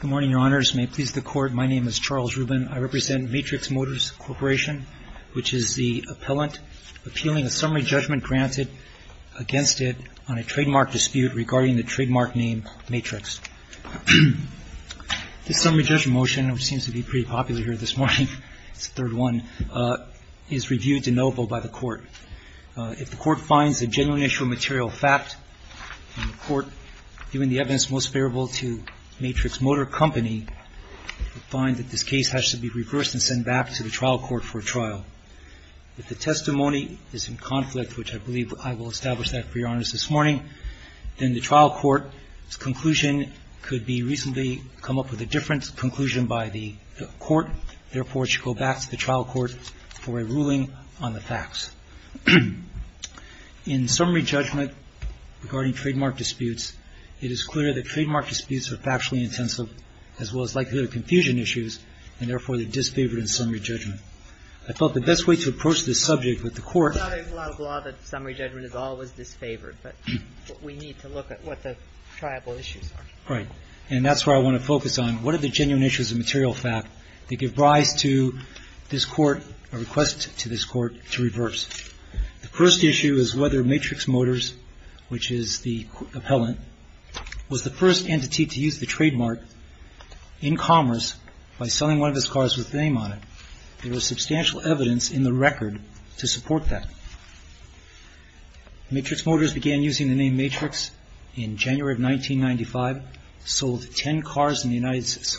Good morning, Your Honors. May it please the Court, my name is Charles Rubin. I represent Matrix Motors Corporation, which is the appellant appealing a summary judgment granted against it on a trademark dispute regarding the trademark name Matrix. This summary judgment motion, which seems to be pretty popular here this morning, it's the third one, is reviewed to no vote by the Court. If the Court finds the genuine issue of a material fact, then the Court, giving the evidence most favorable to Matrix Motor Company, would find that this case has to be reversed and sent back to the trial court for trial. If the testimony is in conflict, which I believe I will establish that for Your Honors this morning, then the trial court's conclusion could be reasonably come up with a different conclusion by the Court. Therefore, it should go back to the trial court for a ruling on the facts. In summary judgment regarding trademark disputes, it is clear that trademark disputes are factually intensive, as well as likely to have confusion issues, and therefore they're disfavored in summary judgment. I felt the best way to approach this subject with the Court — It's not a law of law that summary judgment is always disfavored, but we need to look at what the triable issues are. Right. And that's where I want to focus on. What are the genuine issues of material fact that give rise to this Court, a request to this Court, to reverse? The first issue is whether Matrix Motors, which is the appellant, was the first entity to use the trademark in commerce by selling one of its cars with the name on it. There was substantial evidence in the record to support that. Matrix Motors began using the name Matrix in January of 1995, sold ten cars in the United States,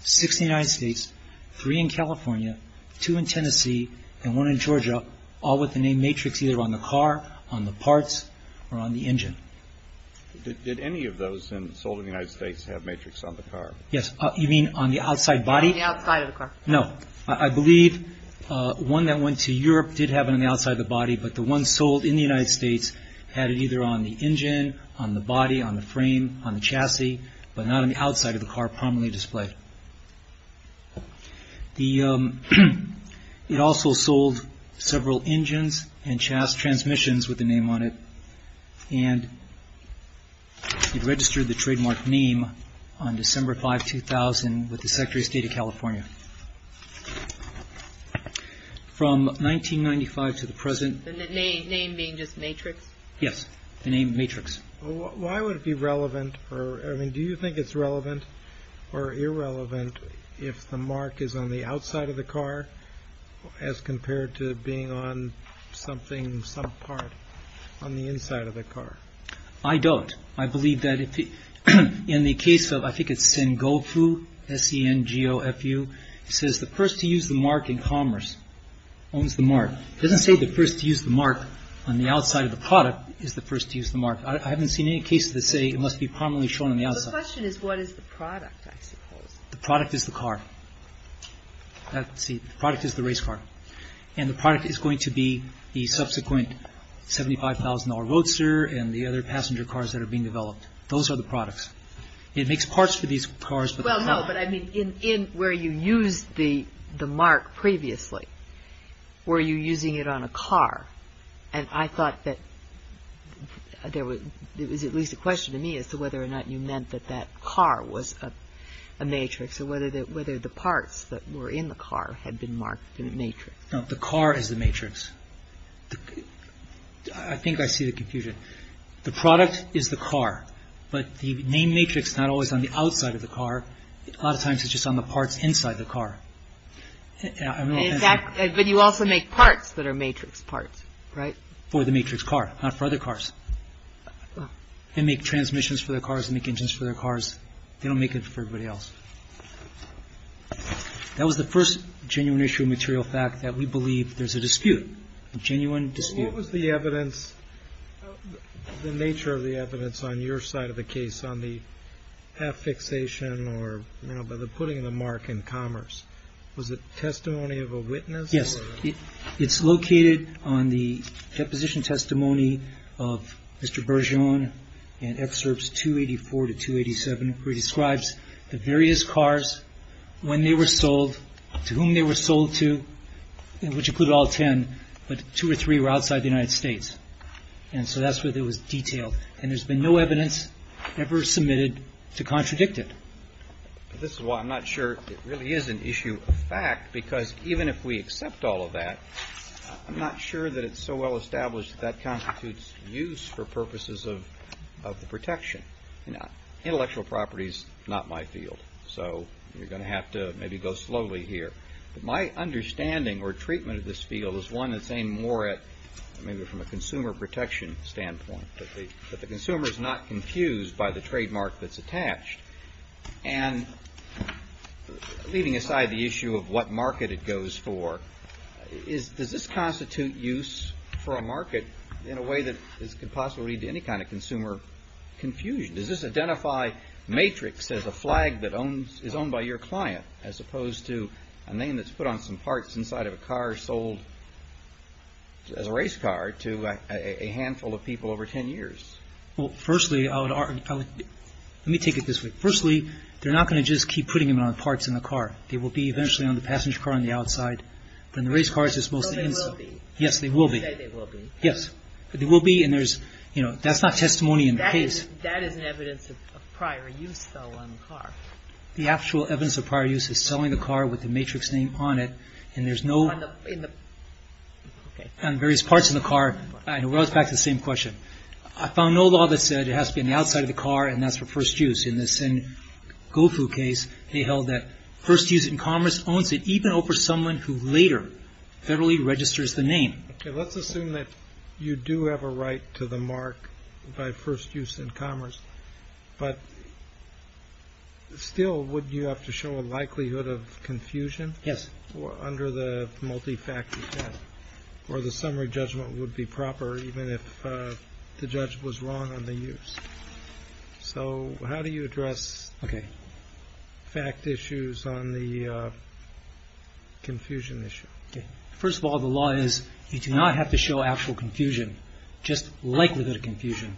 six in the United States, three in California, two in Tennessee, and one in Georgia, all with the name Matrix either on the car, on the parts, or on the engine. Did any of those sold in the United States have Matrix on the car? Yes. You mean on the outside body? On the outside of the car. No. I believe one that went to Europe did have it on the outside of the body, but the one sold in the United States had it either on the engine, on the body, on the frame, on the chassis, but not on the outside of the car prominently displayed. It also sold several engines and transmissions with the name on it, and it registered the trademark name on December 5, 2000, with the Secretary of State of California. From 1995 to the present... The name being just Matrix? Yes. The name Matrix. Why would it be relevant, or I mean, do you think it's relevant or irrelevant if the mark is on the outside of the car as compared to being on something, some part on the inside of the car? I don't. I believe that in the case of, I think it's Sengofu, S-E-N-G-O-F-U, it says the first to use the mark in commerce owns the mark. It doesn't say the first to use the mark on the outside of the product is the first to use the mark. I haven't seen any cases that say it must be prominently shown on the outside. The question is what is the product, I suppose. The product is the car. The product is the race car. And the product is going to be the subsequent $75,000 roadster and the other passenger cars that are being developed. Those are the products. It makes parts for these cars, but... Well, no, but I mean, in where you used the mark previously, were you using it on a car? And I thought that there was at least a question to me as to whether or not you meant that that car was a matrix or whether the parts that were in the car had been marked in a matrix. No, the car is the matrix. I think I see the confusion. The product is the car, but the name matrix is not always on the outside of the car. But you also make parts that are matrix parts, right? For the matrix car, not for other cars. They make transmissions for their cars, they make engines for their cars. They don't make it for everybody else. That was the first genuine issue of material fact that we believe there's a dispute, a genuine dispute. What was the evidence, the nature of the evidence on your side of the case on the half fixation or, you know, by the putting of the mark in commerce? Was it testimony of a witness? Yes. It's located on the deposition testimony of Mr. Bergeon in excerpts 284 to 287, where he describes the various cars, when they were sold, to whom they were sold to, which include all 10, but two or three were outside the United States. And so that's where there was detail. And there's been no evidence ever submitted to contradict it. But this is why I'm not sure it really is an issue of fact, because even if we accept all of that, I'm not sure that it's so well established that that constitutes use for purposes of the protection. Intellectual property is not my field. So you're going to have to maybe go slowly here. My understanding or treatment of this field is one that's aimed more at maybe from a consumer protection standpoint, that the consumer is not confused by the trademark that's attached. And leaving aside the issue of what market it goes for, does this constitute use for a market in a way that could possibly lead to any kind of consumer confusion? Does this identify matrix as a flag that is owned by your client, as opposed to a name that's put on some parts inside of a car sold as a race car to a handful of people over 10 years? Well, firstly, I would argue, let me take it this way. Firstly, they're not going to just keep putting them on parts in the car. They will be eventually on the passenger car on the outside, and the race car is just mostly inside. Yes, they will be. Yes, they will be. And there's, you know, that's not testimony in the case. That is an evidence of prior use, though, on the car. The actual evidence of prior use is selling the car with the matrix name on it, and there's no... On the... In the... Okay. On various parts of the car. And it rolls back to the same question. I found no law that said it has to be on the outside of the car, and that's for first use. In the same Gofu case, they held that first use in commerce owns it, even over someone who later federally registers the name. Okay. Let's assume that you do have a right to the mark by first use in commerce, but still, would you have to show a likelihood of confusion under the multi-factor test, or the summary judgment would be proper even if the judge was wrong on the use? So how do you address fact issues on the confusion issue? Okay. First of all, the law is you do not have to show actual confusion. Just likelihood of confusion.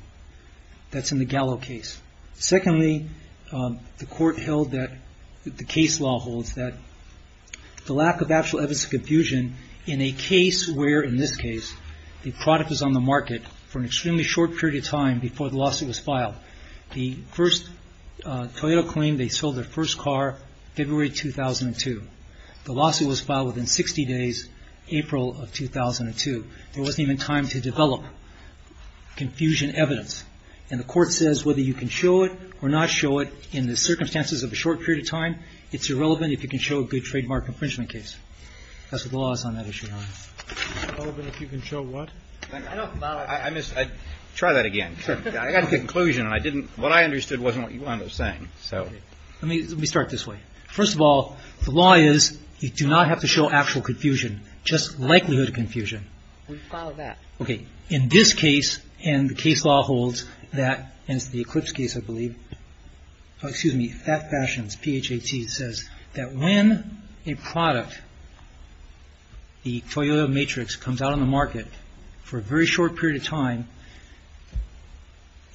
That's in the Gallo case. Secondly, the court held that the case law holds that the lack of actual evidence of confusion in a case where, in this case, the product was on the market for an extremely short period of time before the lawsuit was filed. The first Toyota claimed they sold their first car February 2002. The lawsuit was filed within 60 days, April of 2002. There wasn't even time to develop confusion evidence. And the court says whether you can show it or not show it in the circumstances of a short period of time, it's irrelevant if you can show a good trademark infringement case. That's what the law is on that issue. Irrelevant if you can show what? Try that again. I got to the conclusion, and what I understood wasn't what you wound up saying. Let me start this way. First of all, the law is you do not have to show actual confusion. Just likelihood of confusion. We follow that. Okay. In this case, and the case law holds that, and it's the Eclipse case, I believe. Excuse me. That Fashions, P-H-A-T, says that when a product, the Toyota Matrix, comes out on the market for a very short period of time,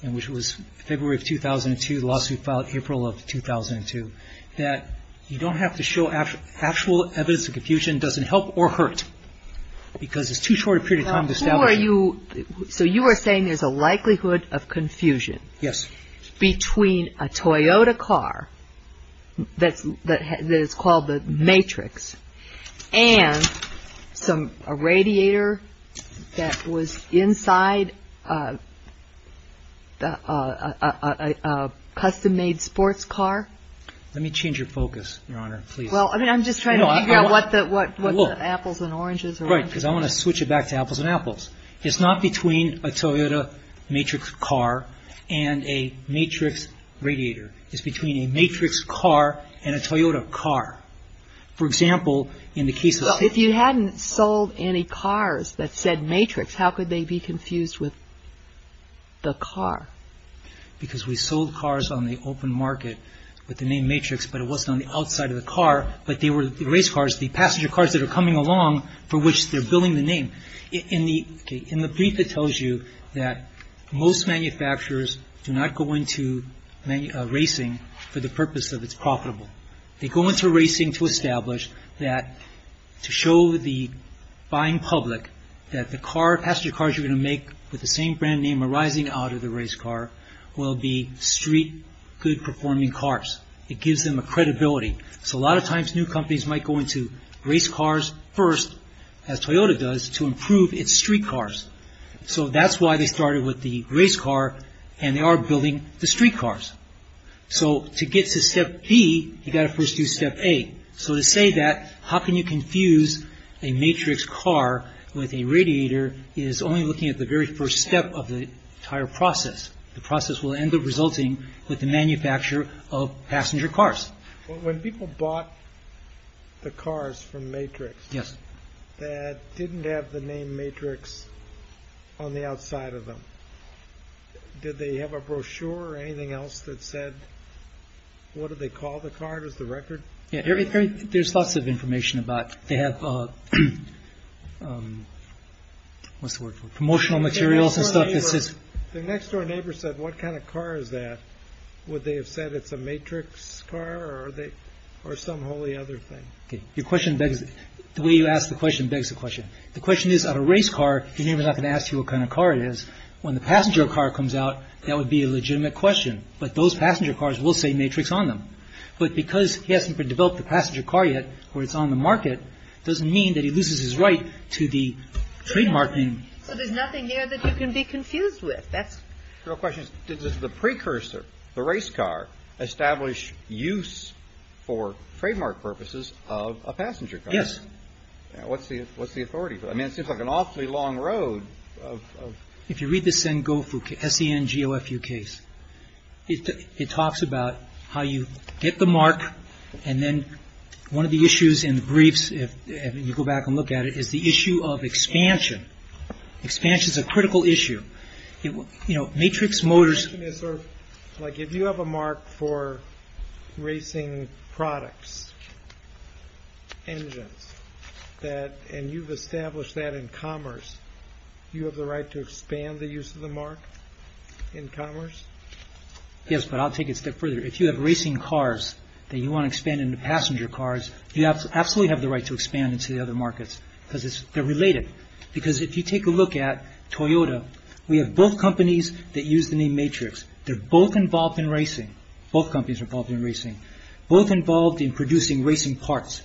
and which was February of 2002, the lawsuit filed April of 2002, that you don't have to show actual evidence of confusion doesn't help or hurt because it's too short a period of time to establish. So you are saying there's a likelihood of confusion between a Toyota car that is called a Matrix and a radiator that was inside a custom-made sports car? Let me change your focus, Your Honor, please. Well, I mean, I'm just trying to figure out what the apples and oranges are. Right, because I want to switch it back to apples and apples. It's not between a Toyota Matrix car and a Matrix radiator. It's between a Matrix car and a Toyota car. For example, in the case of the ---- Well, if you hadn't sold any cars that said Matrix, how could they be confused with the car? Because we sold cars on the open market with the name Matrix, but it wasn't on the outside of the car, but they were race cars, the passenger cars that are coming along for which they're billing the name. In the brief, it tells you that most manufacturers do not go into racing for the purpose of it's profitable. They go into racing to establish that to show the buying public that the passenger cars you're going to make with the same brand name arising out of the race car will be street good performing cars. It gives them a credibility. So a lot of times, new companies might go into race cars first, as Toyota does, to improve its street cars. So that's why they started with the race car, and they are billing the street cars. So to get to step B, you've got to first do step A. So to say that, how can you confuse a Matrix car with a radiator, is only looking at the very first step of the entire process. The process will end up resulting with the manufacture of passenger cars. When people bought the cars from Matrix that didn't have the name Matrix on the outside of them, did they have a brochure or anything else that said, what did they call the car? It was the record? Yeah, there's lots of information about, they have, what's the word for it? Promotional materials and stuff. Their next door neighbor said, what kind of car is that? Would they have said it's a Matrix car, or some wholly other thing? Your question begs, the way you ask the question begs the question. The question is, on a race car, your neighbor's not going to ask you what kind of car it is. When the passenger car comes out, that would be a legitimate question. But those passenger cars will say Matrix on them. But because he hasn't developed the passenger car yet, or it's on the market, doesn't mean that he loses his right to the trademark name. So there's nothing there that you can be confused with? That's Your question is, did the precursor, the race car, establish use for trademark purposes of a passenger car? Yes. What's the authority? I mean, it seems like an awfully long road. If you read the Sengofu case, S-E-N-G-O-F-U case, it talks about how you get the mark, and then one of the issues in the briefs, if you go back and look at it, is the issue of expansion. Expansion's a critical issue. Matrix Motors My question is, if you have a mark for racing products, engines, and you've established that in commerce, you have the right to expand the use of the mark in commerce? Yes, but I'll take it a step further. If you have racing cars that you want to expand into passenger cars, you absolutely have the right to expand into the other markets, because they're related. Because if you take a look at Toyota, we have both companies that use the name Matrix. They're both involved in racing. Both companies are involved in racing. Both involved in producing racing parts.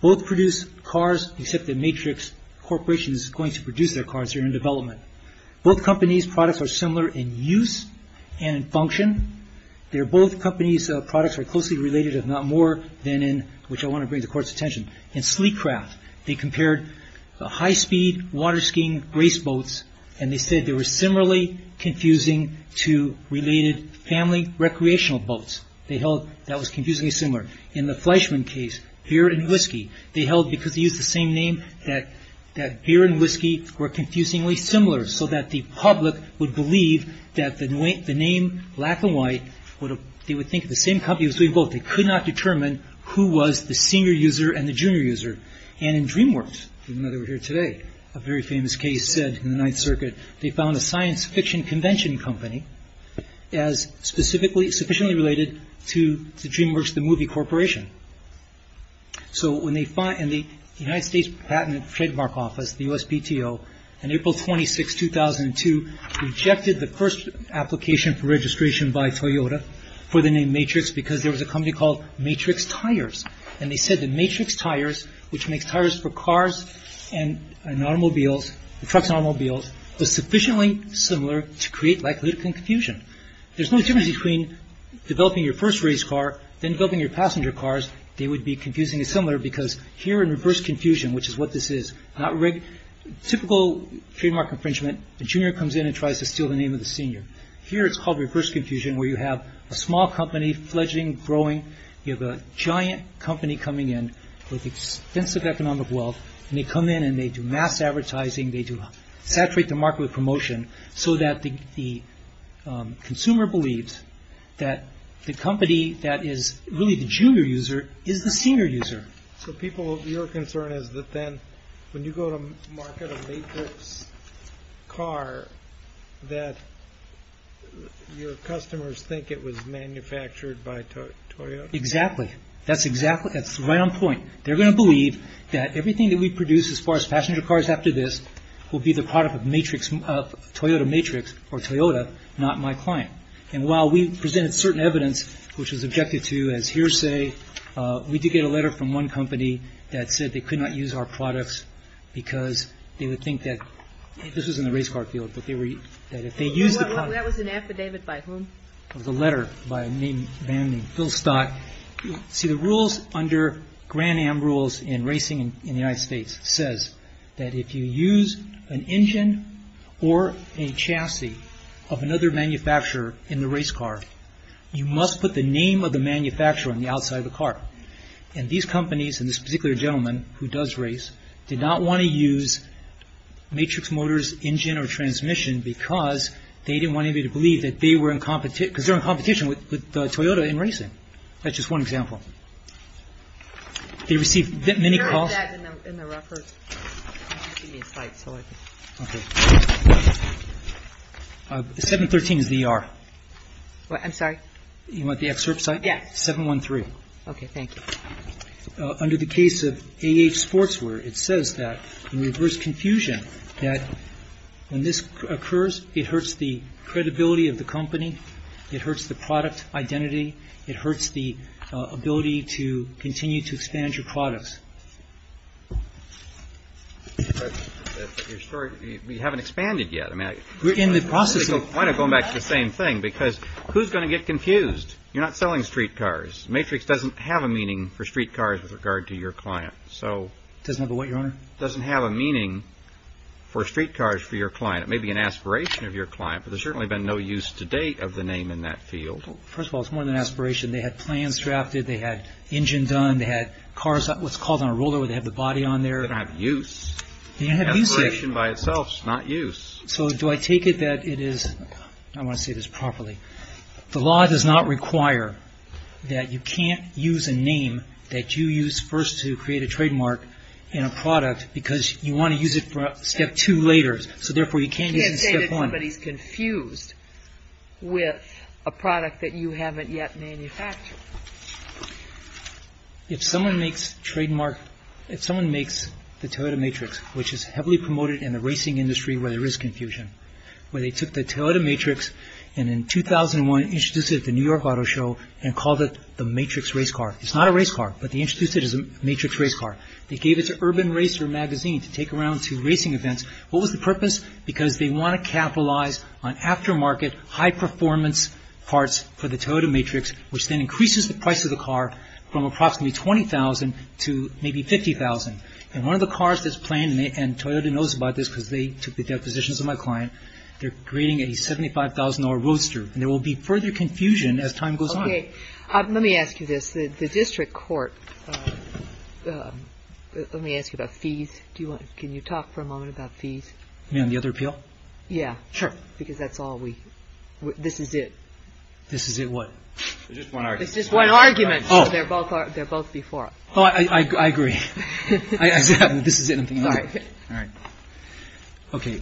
Both produce cars, except that Matrix Corporation is going to produce their cars here in development. Both companies' products are similar in use and in function. They're both companies' products are closely related, if not more than in, which I want to bring to the Court's attention, in sleek craft. They compared high-speed water skiing race boats, and they said they were similarly confusing to related family recreational boats. They held that was confusingly similar. In the Fleischmann case, beer and whiskey, they held, because they used the same name, that beer and whiskey were confusingly similar, so that the public would believe that the name, black and white, they would think the same company was doing both. They could not determine who was the senior user and the junior user. In DreamWorks, even though they were here today, a very famous case said in the Ninth Circuit, they found a science fiction convention company as specifically, sufficiently related to DreamWorks, the movie corporation. So when they, in the United States Patent and Trademark Office, the USPTO, in April 26, 2002, rejected the first application for registration by Toyota for the name Matrix, because there was a company called Matrix Tires. And they said the Matrix Tires, which makes tires for cars and automobiles, trucks and automobiles, was sufficiently similar to create likelihood confusion. There's no difference between developing your first race car, then developing your passenger cars. They would be confusingly similar, because here in reverse confusion, which is what this is, typical trademark infringement, the junior comes in and tries to steal the name of the senior. Here it's called reverse confusion, where you have a small company fledging, growing, you have a giant company coming in with expensive economic wealth. And they come in and they do mass advertising, they do saturate the market with promotion, so that the consumer believes that the company that is really the junior user is the senior user. So people, your concern is that then, when you go to market a Matrix car, that your customers think it was manufactured by Toyota? Exactly. That's exactly, that's right on point. They're going to believe that everything that we produce as far as passenger cars after this will be the product of Toyota Matrix, or Toyota, not my client. And while we presented certain evidence, which was objected to as hearsay, we did get a letter from one company that said they could not use our products because they would think that, this was in the race car field, but they were, that if they used the product. That was an affidavit by whom? It was a letter by a man named Phil Stock. See, the rules under Grand Am rules in racing in the United States says that if you use an engine or a chassis of another manufacturer in the race car, you must put the name of the manufacturer on the outside of the car. And these companies, and this particular gentleman who does race, did not want to use Matrix Motors engine or transmission because they didn't want anybody to believe that they were in competition, because they're in competition with Toyota in racing. That's just one example. They received many calls. Can you read that in the record? Give me a slide so I can. Okay. 713 is the ER. What, I'm sorry? You want the excerpt site? Yeah. 713. Okay, thank you. Under the case of A.H. Sportswear, it says that in reverse confusion, that when this occurs, it hurts the credibility of the company. It hurts the product identity. It hurts the ability to continue to expand your products. Your story, we haven't expanded yet. I mean, why not go back to the same thing? Because who's going to get confused? You're not selling street cars. Matrix doesn't have a meaning for street cars with regard to your client. Doesn't have a what, Your Honor? Doesn't have a meaning for street cars for your client. It may be an aspiration of your client, but there's certainly been no use to date of the name in that field. First of all, it's more than an aspiration. They had plans drafted. They had engine done. They had cars, what's called, on a roller where they have the body on there. They didn't have use. They didn't have use, sir. Aspiration by itself is not use. So do I take it that it is, I want to say this properly, the law does not require that you can't use a name that you use first to create a trademark in a product because you want to use it for step two later. So therefore, you can't use step one. I can't say that somebody's confused with a product that you haven't yet manufactured. If someone makes trademark, if someone makes the Toyota Matrix, which is heavily promoted in the racing industry where there is confusion, where they took the Toyota Matrix and in 2001, introduced it at the New York Auto Show and called it the Matrix race car. It's not a race car, but they introduced it as a Matrix race car. They gave it to Urban Racer magazine to take around to racing events. What was the purpose? Because they want to capitalize on aftermarket high performance parts for the Toyota Matrix, which then increases the price of the car from approximately $20,000 to maybe $50,000. And one of the cars that's planned, and Toyota knows about this because they took the depositions of my client. They're creating a $75,000 roadster and there will be further confusion as time goes on. Okay, let me ask you this. The district court, let me ask you about fees. Can you talk for a moment about fees? You mean on the other appeal? Yeah. Sure. Because that's all we, this is it. This is it what? It's just one argument. It's just one argument. Oh. They're both before. Oh, I agree. This is it. All right. All right. Okay.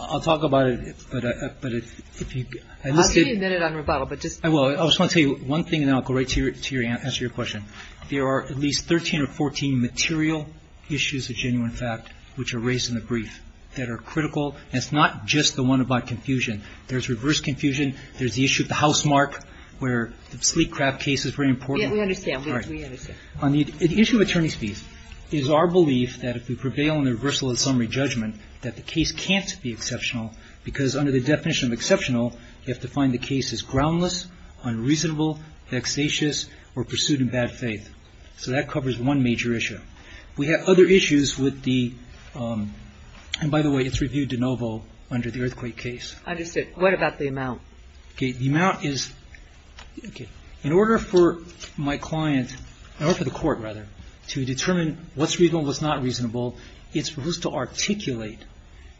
I'll talk about it, but if you. I'll give you a minute on rebuttal, but just. I will. I just want to tell you one thing and then I'll go right to your answer to your question. There are at least 13 or 14 material issues of genuine fact which are raised in the brief that are critical. That's not just the one about confusion. There's reverse confusion. There's the issue of the housemark where the sleek crab case is very important. Yeah, we understand. We understand. The issue of attorney's fees is our belief that if we prevail in the reversal of the summary judgment that the case can't be exceptional because under the definition of exceptional, you have to find the case as groundless, unreasonable, vexatious, or pursued in bad faith. So that covers one major issue. We have other issues with the, and by the way, it's reviewed de novo under the earthquake case. I understand. What about the amount? Okay. The amount is, okay. In order for my client, in order for the court rather, to determine what's reasonable and what's not reasonable, it's supposed to articulate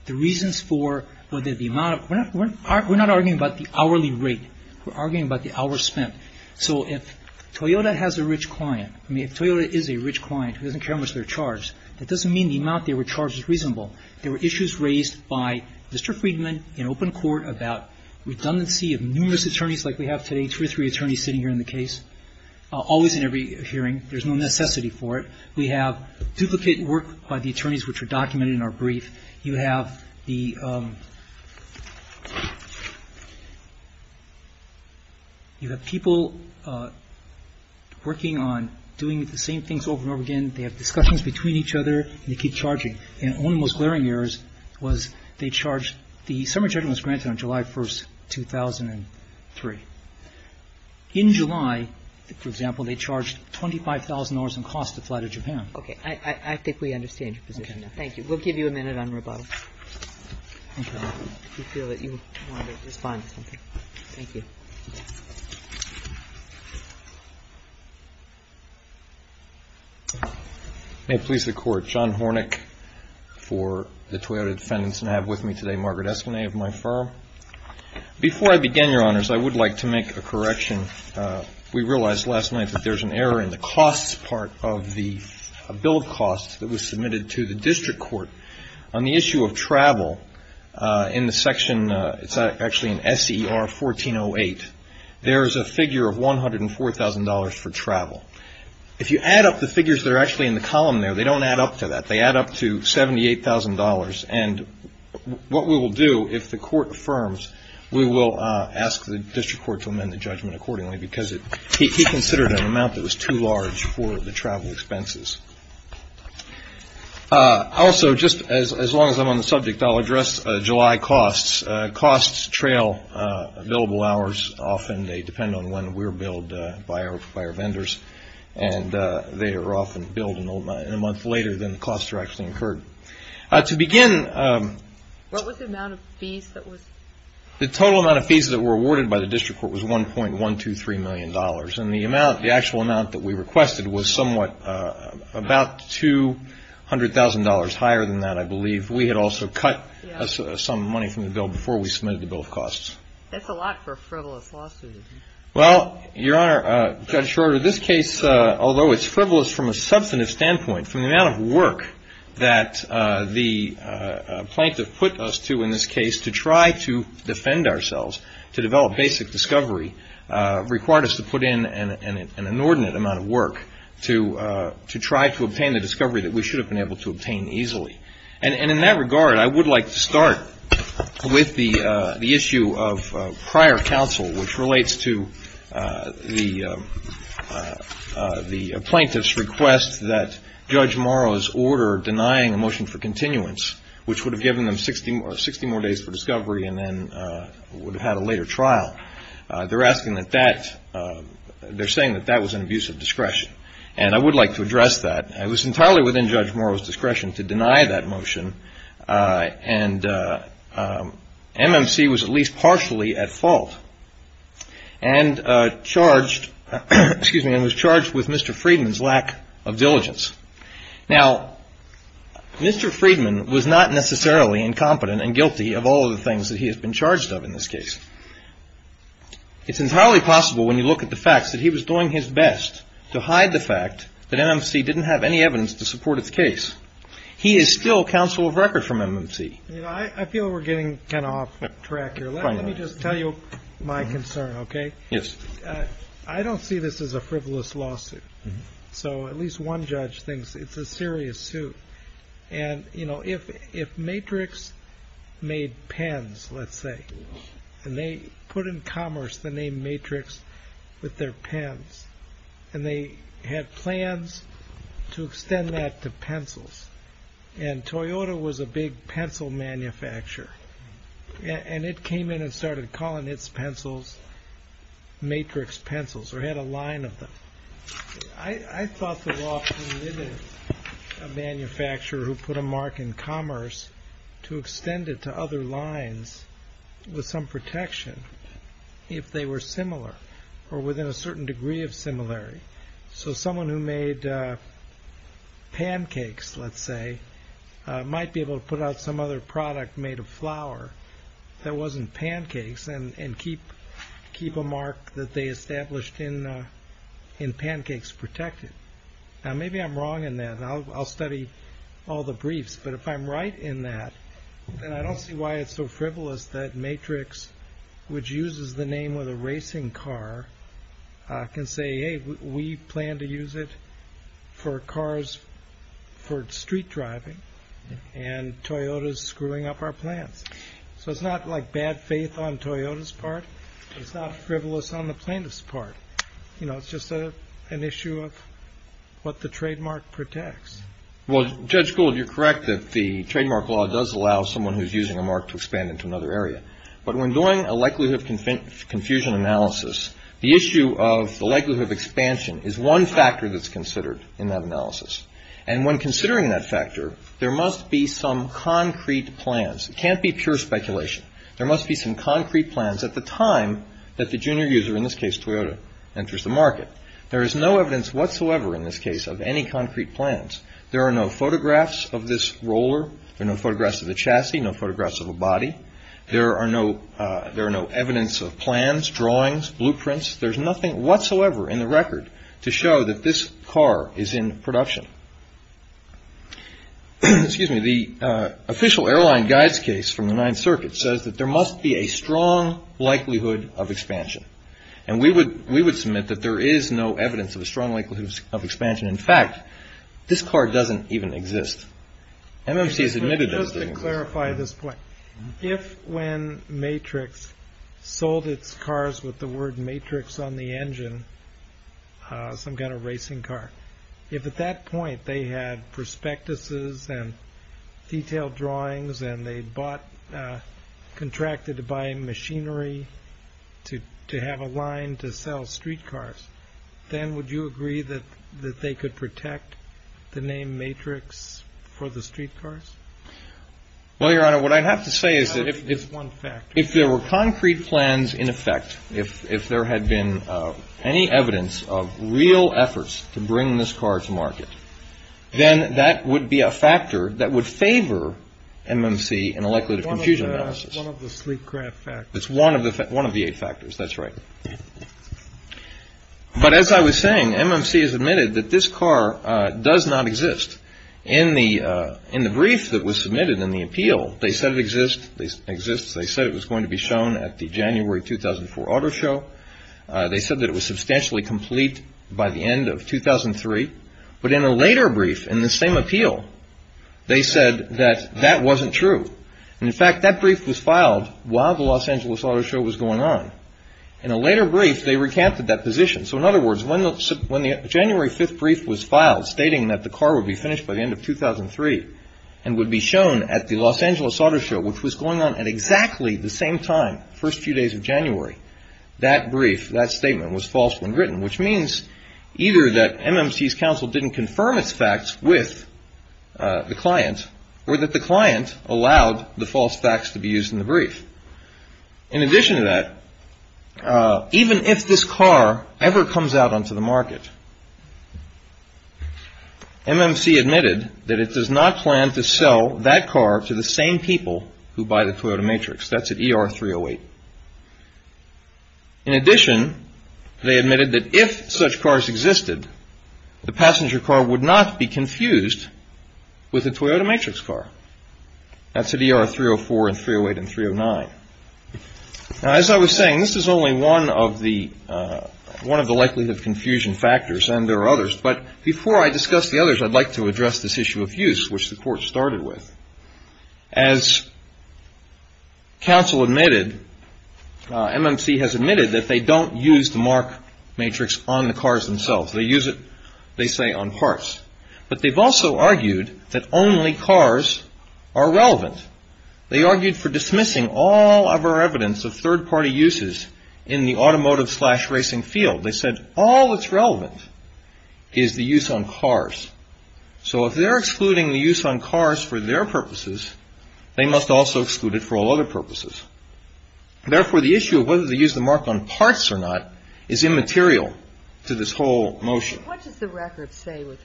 the reasons for whether the amount of, we're not arguing about the hourly rate, we're arguing about the hours spent. So if Toyota has a rich client, I mean if Toyota is a rich client who doesn't care much about their charge, that doesn't mean the amount they were charged was reasonable. There were issues raised by Mr. Friedman in open court about redundancy of numerous attorneys like we have today, two or three attorneys sitting here in the case, always in every hearing. There's no necessity for it. We have duplicate work by the attorneys which are documented in our brief. You have the, you have people working on doing the same things over and over again. They have discussions between each other and they keep charging. And one of the most glaring errors was they charged, the summary judgment was granted on July 1st, 2003. In July, for example, they charged $25,000 in costs to fly to Japan. Okay. I think we understand your position now. Thank you. We'll give you a minute on rebuttal if you feel that you want to respond to something. Thank you. May it please the court. John Hornick for the Toyota defendants and I have with me today Margaret Esplanade of my firm. Before I begin, your honors, I would like to make a correction. We realized last night that there's an error in the costs part of the bill of costs that was submitted to the district court. On the issue of travel, in the section, it's actually in SER 1408, there's a figure of $104,000 for travel. If you add up the figures that are actually in the column there, they don't add up to that. They add up to $78,000 and what we will do if the court affirms, we will ask the district court to amend the judgment accordingly because he considered an amount that was too large for the travel expenses. Also, just as long as I'm on the subject, I'll address July costs. Costs trail billable hours often. They depend on when we're billed by our vendors and they are often billed in a month later than the costs are actually incurred. To begin, the total amount of fees that were awarded by the district court was $1.123 million and the amount, the total amount that we requested was somewhat about $200,000 higher than that, I believe. We had also cut some money from the bill before we submitted the bill of costs. That's a lot for a frivolous lawsuit. Well, Your Honor, Judge Schroeder, this case, although it's frivolous from a substantive standpoint, from the amount of work that the plaintiff put us to in this case to try to defend ourselves, to develop basic discovery, required us to put in an inordinate amount of work to try to obtain the discovery that we should have been able to obtain easily. And in that regard, I would like to start with the issue of prior counsel, which relates to the plaintiff's request that Judge Morrow's order denying a motion for continuance, which would have given them 60 more days for discovery and then would have had a later trial. They're asking that that, they're saying that that was an abuse of discretion. And I would like to address that. It was entirely within Judge Morrow's discretion to deny that motion, and MMC was at least partially at fault. And charged, excuse me, and was charged with Mr. Friedman's lack of diligence. Now, Mr. Friedman was not necessarily incompetent and guilty of all of the things that he has been charged of in this case. It's entirely possible when you look at the facts that he was doing his best to hide the fact that MMC didn't have any evidence to support its case. He is still counsel of record from MMC. I feel we're getting kind of off track here. Let me just tell you my concern, okay? Yes. I don't see this as a frivolous lawsuit. So at least one judge thinks it's a serious suit. And if Matrix made pens, let's say, and they put in commerce the name Matrix with their pens, and they had plans to extend that to pencils. And Toyota was a big pencil manufacturer, and it came in and started calling its pencils Matrix pencils or had a line of them. I thought the law permitted a manufacturer who put a mark in commerce to extend it to other lines with some protection if they were similar or within a certain degree of similarity. So someone who made pancakes, let's say, might be able to put out some other product made of flour that wasn't pancakes and keep a mark that they established in pancakes protected. Now, maybe I'm wrong in that, and I'll study all the briefs. But if I'm right in that, then I don't see why it's so frivolous that Matrix, which uses the name with a racing car, can say, hey, we plan to use it for cars for street driving, and Toyota's screwing up our plans. So it's not like bad faith on Toyota's part. It's not frivolous on the plaintiff's part. You know, it's just an issue of what the trademark protects. Well, Judge Gould, you're correct that the trademark law does allow someone who's using a mark to expand into another area. But when doing a likelihood of confusion analysis, the issue of the likelihood of expansion is one factor that's considered in that analysis. And when considering that factor, there must be some concrete plans. It can't be pure speculation. There must be some concrete plans at the time that the junior user, in this case Toyota, enters the market. There is no evidence whatsoever, in this case, of any concrete plans. There are no photographs of this roller. There are no photographs of the chassis, no photographs of the body. There are no evidence of plans, drawings, blueprints. There's nothing whatsoever in the record to show that this car is in production. Excuse me. The official airline guide's case from the Ninth Circuit says that there must be a strong likelihood of expansion. And we would submit that there is no evidence of a strong likelihood of expansion. In fact, this car doesn't even exist. MMC has admitted that it doesn't exist. Just to clarify this point, if when Matrix sold its cars with the word Matrix on the engine, some kind of racing car, if at that point they had prospectuses and detailed drawings and they bought, contracted to buy machinery to have a line to sell streetcars, then would you agree that they could protect the name Matrix for the streetcars? Well, Your Honor, what I'd have to say is that if there were concrete plans in effect, if there had been any evidence of real efforts to bring this car to market, then that would be a factor that would favor MMC in a likelihood of confusion analysis. One of the sleep craft factors. It's one of the eight factors. That's right. But as I was saying, MMC has admitted that this car does not exist. In the brief that was submitted in the appeal, they said it exists. It was shown at the January 2004 auto show. They said that it was substantially complete by the end of 2003. But in a later brief in the same appeal, they said that that wasn't true. And in fact, that brief was filed while the Los Angeles Auto Show was going on. In a later brief, they recanted that position. So in other words, when the January 5th brief was filed stating that the car would be finished by the end of 2003 and would be shown at the Los Angeles Auto Show, which was going on at exactly the same time, first few days of January, that brief, that statement was false when written, which means either that MMC's counsel didn't confirm its facts with the client or that the client allowed the false facts to be used in the brief. In addition to that, even if this car ever comes out onto the market, MMC admitted that it does not plan to sell that car to the same people who buy the Toyota Matrix. That's at ER 308. In addition, they admitted that if such cars existed, the passenger car would not be confused with a Toyota Matrix car. That's at ER 304 and 308 and 309. Now, as I was saying, this is only one of the likelihood of confusion factors, and there are others. But before I discuss the others, I'd like to address this issue of use, which the court started with. As counsel admitted, MMC has admitted that they don't use the Mark Matrix on the cars themselves. They use it, they say, on parts. But they've also argued that only cars are relevant. They argued for dismissing all of our evidence of third-party uses in the automotive-slash-racing field. They said all that's relevant is the use on cars. So if they're excluding the use on cars for their purposes, they must also exclude it for all other purposes. Therefore, the issue of whether they use the Mark on parts or not is immaterial to this whole motion. What does the record say with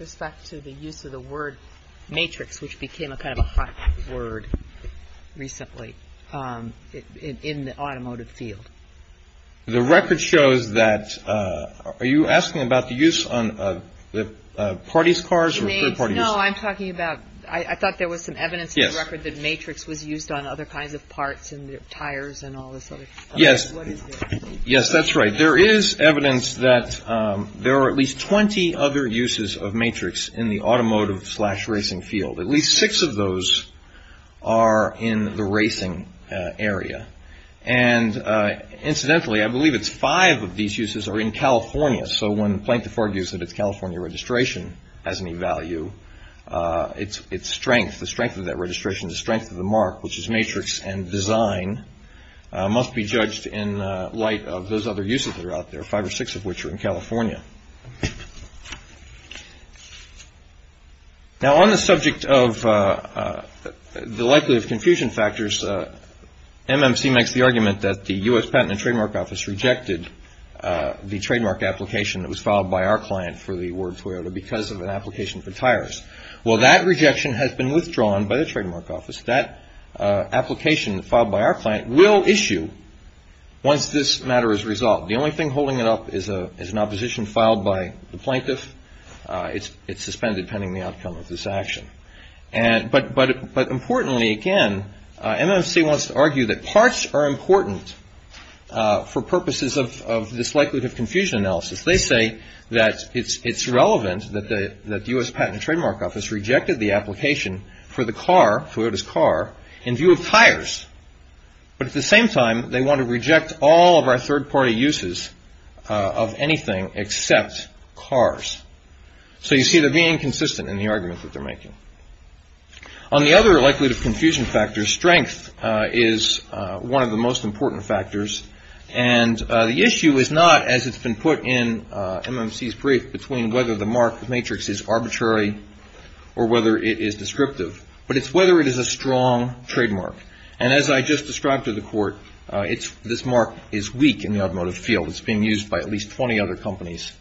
respect to the use of the word matrix, which became a kind of a hot word recently in the automotive field? The record shows that. Are you asking about the use on the party's cars or third-party? No, I'm talking about I thought there was some evidence in the record that Matrix was used on other kinds of parts and tires and all this. Yes. Yes, that's right. There is evidence that there are at least 20 other uses of matrix in the automotive-slash-racing field. At least six of those are in the racing area. And incidentally, I believe it's five of these uses are in California. So when Planktiford argues that its California registration has any value, its strength, the strength of that registration, the strength of the Mark, which is matrix and design, must be judged in light of those other uses that are out there, five or six of which are in California. Now, on the subject of the likelihood of confusion factors, MMC makes the argument that the U.S. Patent and Trademark Office rejected the trademark application that was filed by our client for the word Toyota because of an application for tires. Well, that rejection has been withdrawn by the Trademark Office. That application filed by our client will issue once this matter is resolved. The only thing holding it up is an opposition filed by the plaintiff. It's suspended pending the outcome of this action. But importantly, again, MMC wants to argue that parts are important for purposes of this likelihood of confusion analysis. They say that it's relevant that the U.S. Patent and Trademark Office rejected the application for the car, Toyota's car, in view of tires. But at the same time, they want to reject all of our third party uses of anything except cars. So you see, they're being inconsistent in the argument that they're making. On the other likelihood of confusion factors, strength is one of the most important factors. And the issue is not, as it's been put in MMC's brief, between whether the mark matrix is arbitrary or whether it is descriptive, but it's whether it is a strong trademark. And as I just described to the court, this mark is weak in the automotive field. It's being used by at least 20 other companies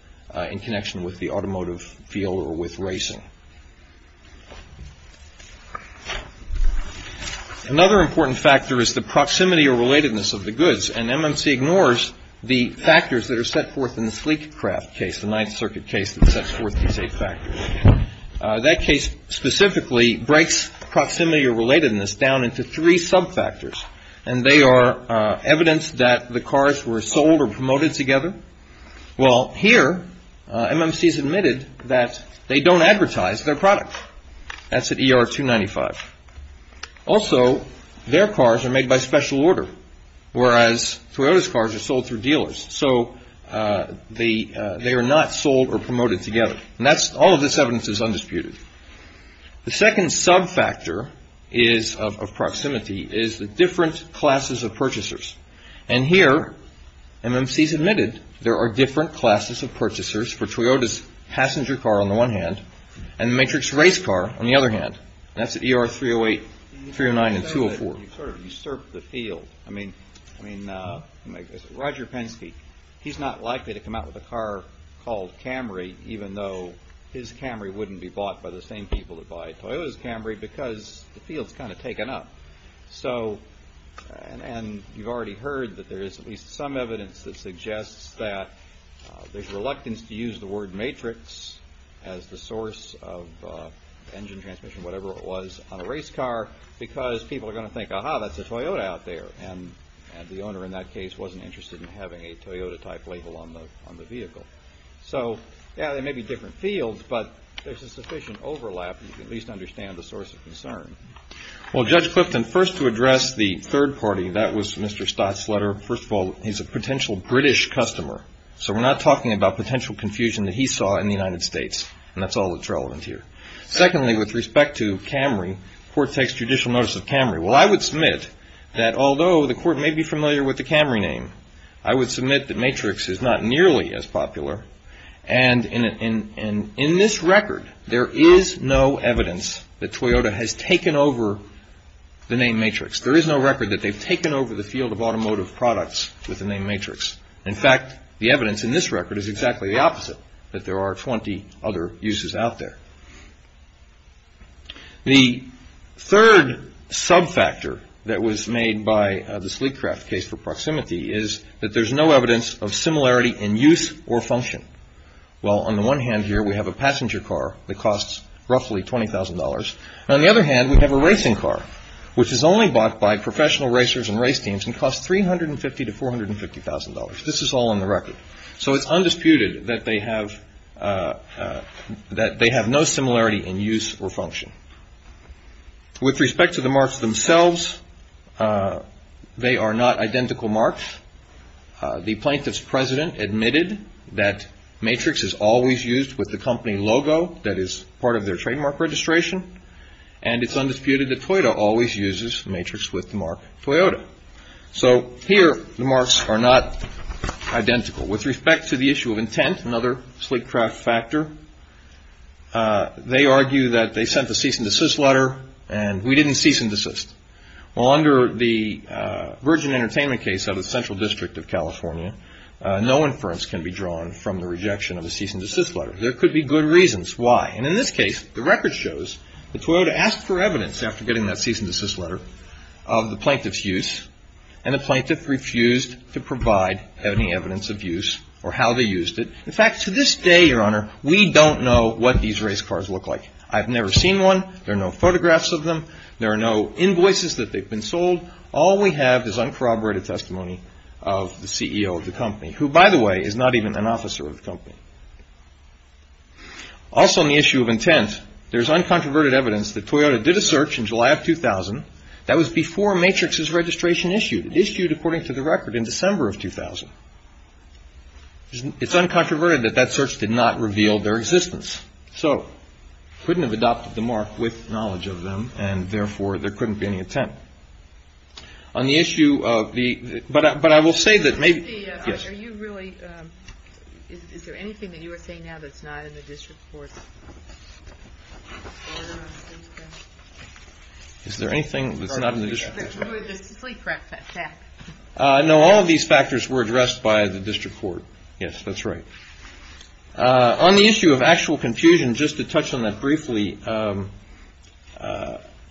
in connection with the automotive field or with racing. Another important factor is the proximity or relatedness of the goods. And MMC ignores the factors that are set forth in the sleek craft case, the Ninth Circuit case that sets forth these eight factors. That case specifically breaks proximity or relatedness down into three sub factors. And they are evidence that the cars were sold or promoted together. Well, here, MMC has admitted that they don't advertise their product. That's at ER 295. Also, their cars are made by special order. Whereas Toyota's cars are sold through dealers. So they are not sold or promoted together. And all of this evidence is undisputed. The second sub factor of proximity is the different classes of purchasers. And here, MMC's admitted there are different classes of purchasers for Toyota's passenger car on the one hand and Matrix race car on the other hand. That's at ER 308, 309 and 204. You sort of usurp the field. I mean, I mean, Roger Penske, he's not likely to come out with a car called Camry, even though his Camry wouldn't be bought by the same people that buy Toyota's Camry because the field's kind of taken up. So and you've already heard that there is at least some evidence that suggests that there's reluctance to use the word Matrix as the source of engine transmission, whatever it was, on a race car. Because people are going to think, aha, that's a Toyota out there. And the owner in that case wasn't interested in having a Toyota type label on the on the vehicle. So, yeah, there may be different fields, but there's a sufficient overlap to at least understand the source of concern. Well, Judge Clifton, first to address the third party, that was Mr. Stott's letter. First of all, he's a potential British customer. So we're not talking about potential confusion that he saw in the United States. And that's all that's relevant here. Secondly, with respect to Camry, court takes judicial notice of Camry. Well, I would submit that although the court may be familiar with the Camry name, I would submit that Matrix is not nearly as popular. And in this record, there is no evidence that Toyota has taken over the name Matrix. There is no record that they've taken over the field of automotive products with the name Matrix. In fact, the evidence in this record is exactly the opposite, that there are 20 other uses out there. The third subfactor that was made by the Sleekcraft case for proximity is that there's no evidence of similarity in use or function. Well, on the one hand here, we have a passenger car that costs roughly $20,000. On the other hand, we have a racing car, which is only bought by professional racers and race teams and costs $350,000 to $450,000. This is all on the record. So it's undisputed that they have no similarity in use or function. With respect to the marks themselves, they are not identical marks. The plaintiff's president admitted that Matrix is always used with the company logo that is part of their trademark registration. And it's undisputed that Toyota always uses Matrix with the mark Toyota. So here, the marks are not identical. With respect to the issue of intent, another Sleekcraft factor, they argue that they sent the cease and desist letter and we didn't cease and desist. Well, under the Virgin Entertainment case of the Central District of California, no inference can be drawn from the rejection of a cease and desist letter. There could be good reasons why. And in this case, the record shows that Toyota asked for evidence after getting that cease and desist letter of the plaintiff's use and the plaintiff refused to provide any evidence of use or how they used it. In fact, to this day, Your Honor, we don't know what these race cars look like. I've never seen one. There are no photographs of them. There are no invoices that they've been sold. All we have is uncorroborated testimony of the CEO of the company, who, by the way, is not even an officer of the company. Also, on the issue of intent, there's uncontroverted evidence that Toyota did a search in July of 2000 that was before Matrix's registration issued, issued according to the record in December of 2000. It's uncontroverted that that search did not reveal their existence, so couldn't have adopted the mark with knowledge of them. And therefore, there couldn't be any intent on the issue of the. But but I will say that maybe you really. Is there anything that you are saying now that's not in the district court? Is there anything that's not in the district? I know all of these factors were addressed by the district court. Yes, that's right. On the issue of actual confusion, just to touch on that briefly,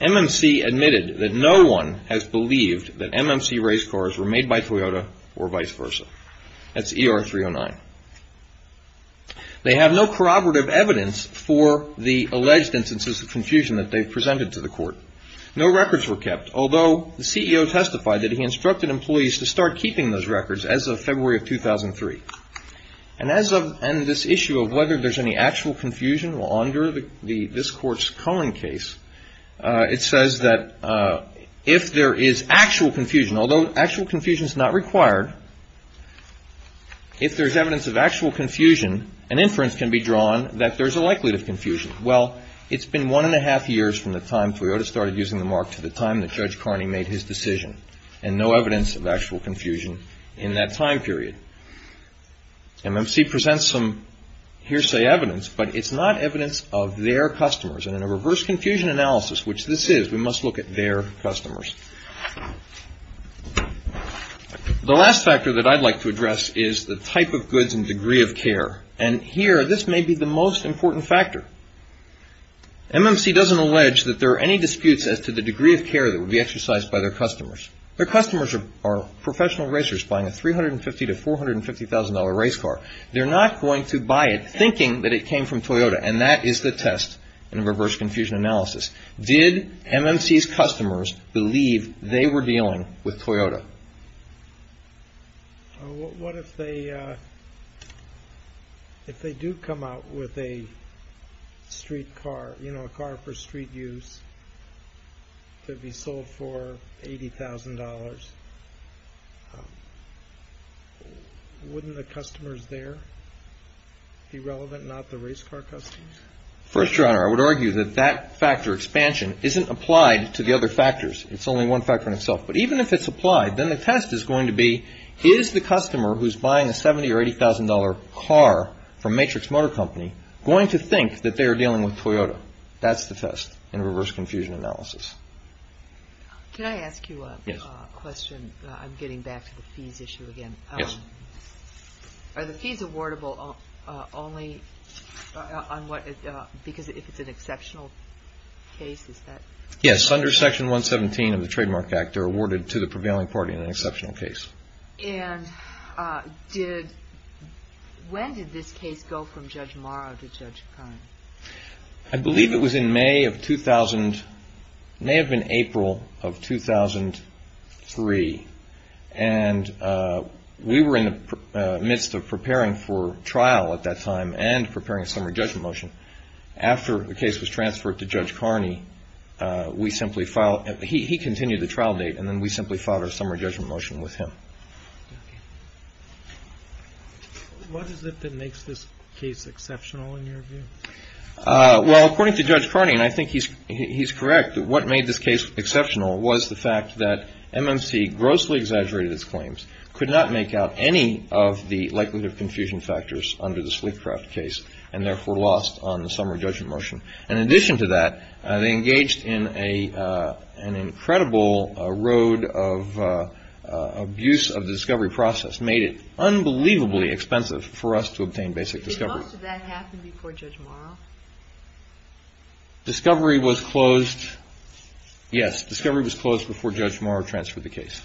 MMC admitted that no one has believed that MMC race cars were made by Toyota or vice versa. That's ER 309. They have no corroborative evidence for the alleged instances of confusion that they've presented to the court. No records were kept, although the CEO testified that he instructed employees to start keeping those records as of February of 2003. And as of this issue of whether there's any actual confusion, well, under the this court's Cohen case, it says that if there is actual confusion, although actual confusion is not required. If there's evidence of actual confusion, an inference can be drawn that there's a likelihood of confusion. Well, it's been one and a half years from the time Toyota started using the mark to the time that Judge Carney made his decision and no evidence of actual confusion in that time period. MMC presents some hearsay evidence, but it's not evidence of their customers. And in a reverse confusion analysis, which this is, we must look at their customers. The last factor that I'd like to address is the type of goods and degree of care. And here, this may be the most important factor. MMC doesn't allege that there are any disputes as to the degree of care that would be exercised by their customers. Their customers are professional racers buying a $350,000 to $450,000 race car. They're not going to buy it thinking that it came from Toyota. And that is the test in a reverse confusion analysis. Did MMC's customers believe they were dealing with Toyota? What if they, if they do come out with a street car, you know, a car for street use to be sold for $80,000, wouldn't the customers there be relevant, not the race car customers? First, Your Honor, I would argue that that factor expansion isn't applied to the other factors. It's only one factor in itself. But even if it's applied, then the test is going to be, is the customer who's buying a $70,000 or $80,000 car from Matrix Motor Company going to think that they are dealing with Toyota? That's the test in a reverse confusion analysis. Can I ask you a question? I'm getting back to the fees issue again. Are the fees awardable only on what, because if it's an exceptional case, is that? Yes, under Section 117 of the Trademark Act, they're awarded to the prevailing party in an exceptional case. And did, when did this case go from Judge Morrow to Judge Carney? I believe it was in May of 2000, may have been April of 2003. And we were in the midst of preparing for trial at that time and preparing a summary judgment motion. After the case was transferred to Judge Carney, we simply filed, he continued the trial date, and then we simply filed our summary judgment motion with him. What is it that makes this case exceptional in your view? Well, according to Judge Carney, and I think he's correct, what made this case exceptional was the fact that MMC grossly exaggerated its claims, could not make out any of the likelihood of confusion factors under the Sleekcraft case, and therefore lost on the summary judgment motion. And in addition to that, they engaged in an incredible road of abuse of the discovery process, made it unbelievably expensive for us to obtain basic discovery. Did most of that happen before Judge Morrow? Discovery was closed, yes, discovery was closed before Judge Morrow transferred the case.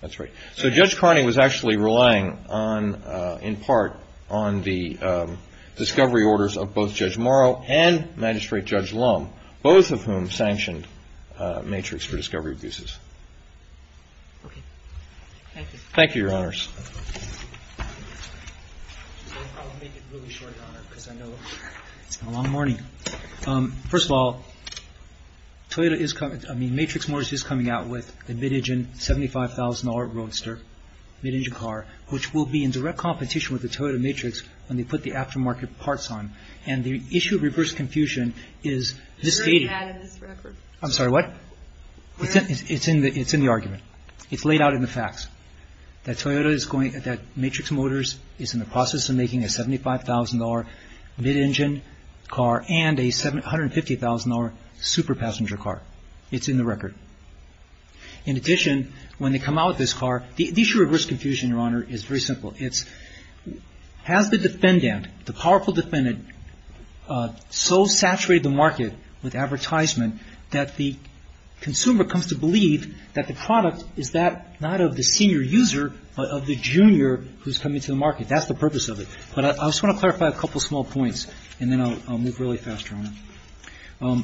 That's right. So Judge Carney was actually relying on, in part, on the discovery orders of both Judge Morrow and Magistrate Judge Lum, both of whom sanctioned Matrix for discovery abuses. Thank you, Your Honors. I'll make it really short, Your Honor, because I know it's been a long morning. First of all, Matrix Motors is coming out with a mid-engine, $75,000 roadster, mid-engine car, which will be in direct competition with the Toyota Matrix when they put the aftermarket parts on. And the issue of reverse confusion is this data. It's already had it in this record. I'm sorry, what? It's in the argument. It's laid out in the facts that Toyota is going, that Matrix Motors is in the process of making a $75,000 mid-engine car and a $150,000 super passenger car. It's in the record. In addition, when they come out with this car, the issue of reverse confusion, Your Honor, is very simple. It's, has the defendant, the powerful defendant, so saturated the market with advertisement that the consumer comes to believe that the product is that, not of the senior user, but of the junior who's coming to the market. That's the purpose of it. But I just want to clarify a couple of small points, and then I'll move really fast, Your Honor.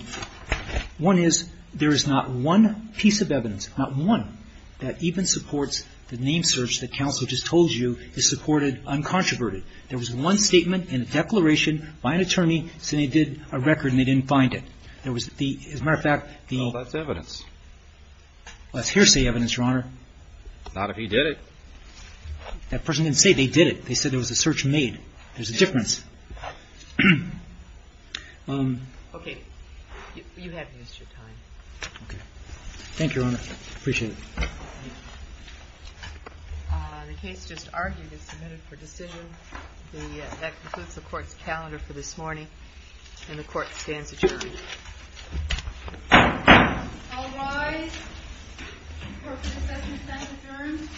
One is, there is not one piece of evidence, not one, that even supports the name search that counsel just told you is supported uncontroverted. There was one statement in a declaration by an attorney, saying they did a record and they didn't find it. There was the, as a matter of fact, the... No, that's evidence. That's hearsay evidence, Your Honor. Not if he did it. That person didn't say they did it. They said there was a search made. There's a difference. Okay. You haven't used your time. Thank you, Your Honor. I appreciate it. The case just argued and submitted for decision. That concludes the court's calendar for this morning, and the court stands adjourned. All rise. Court proceedings have been adjourned.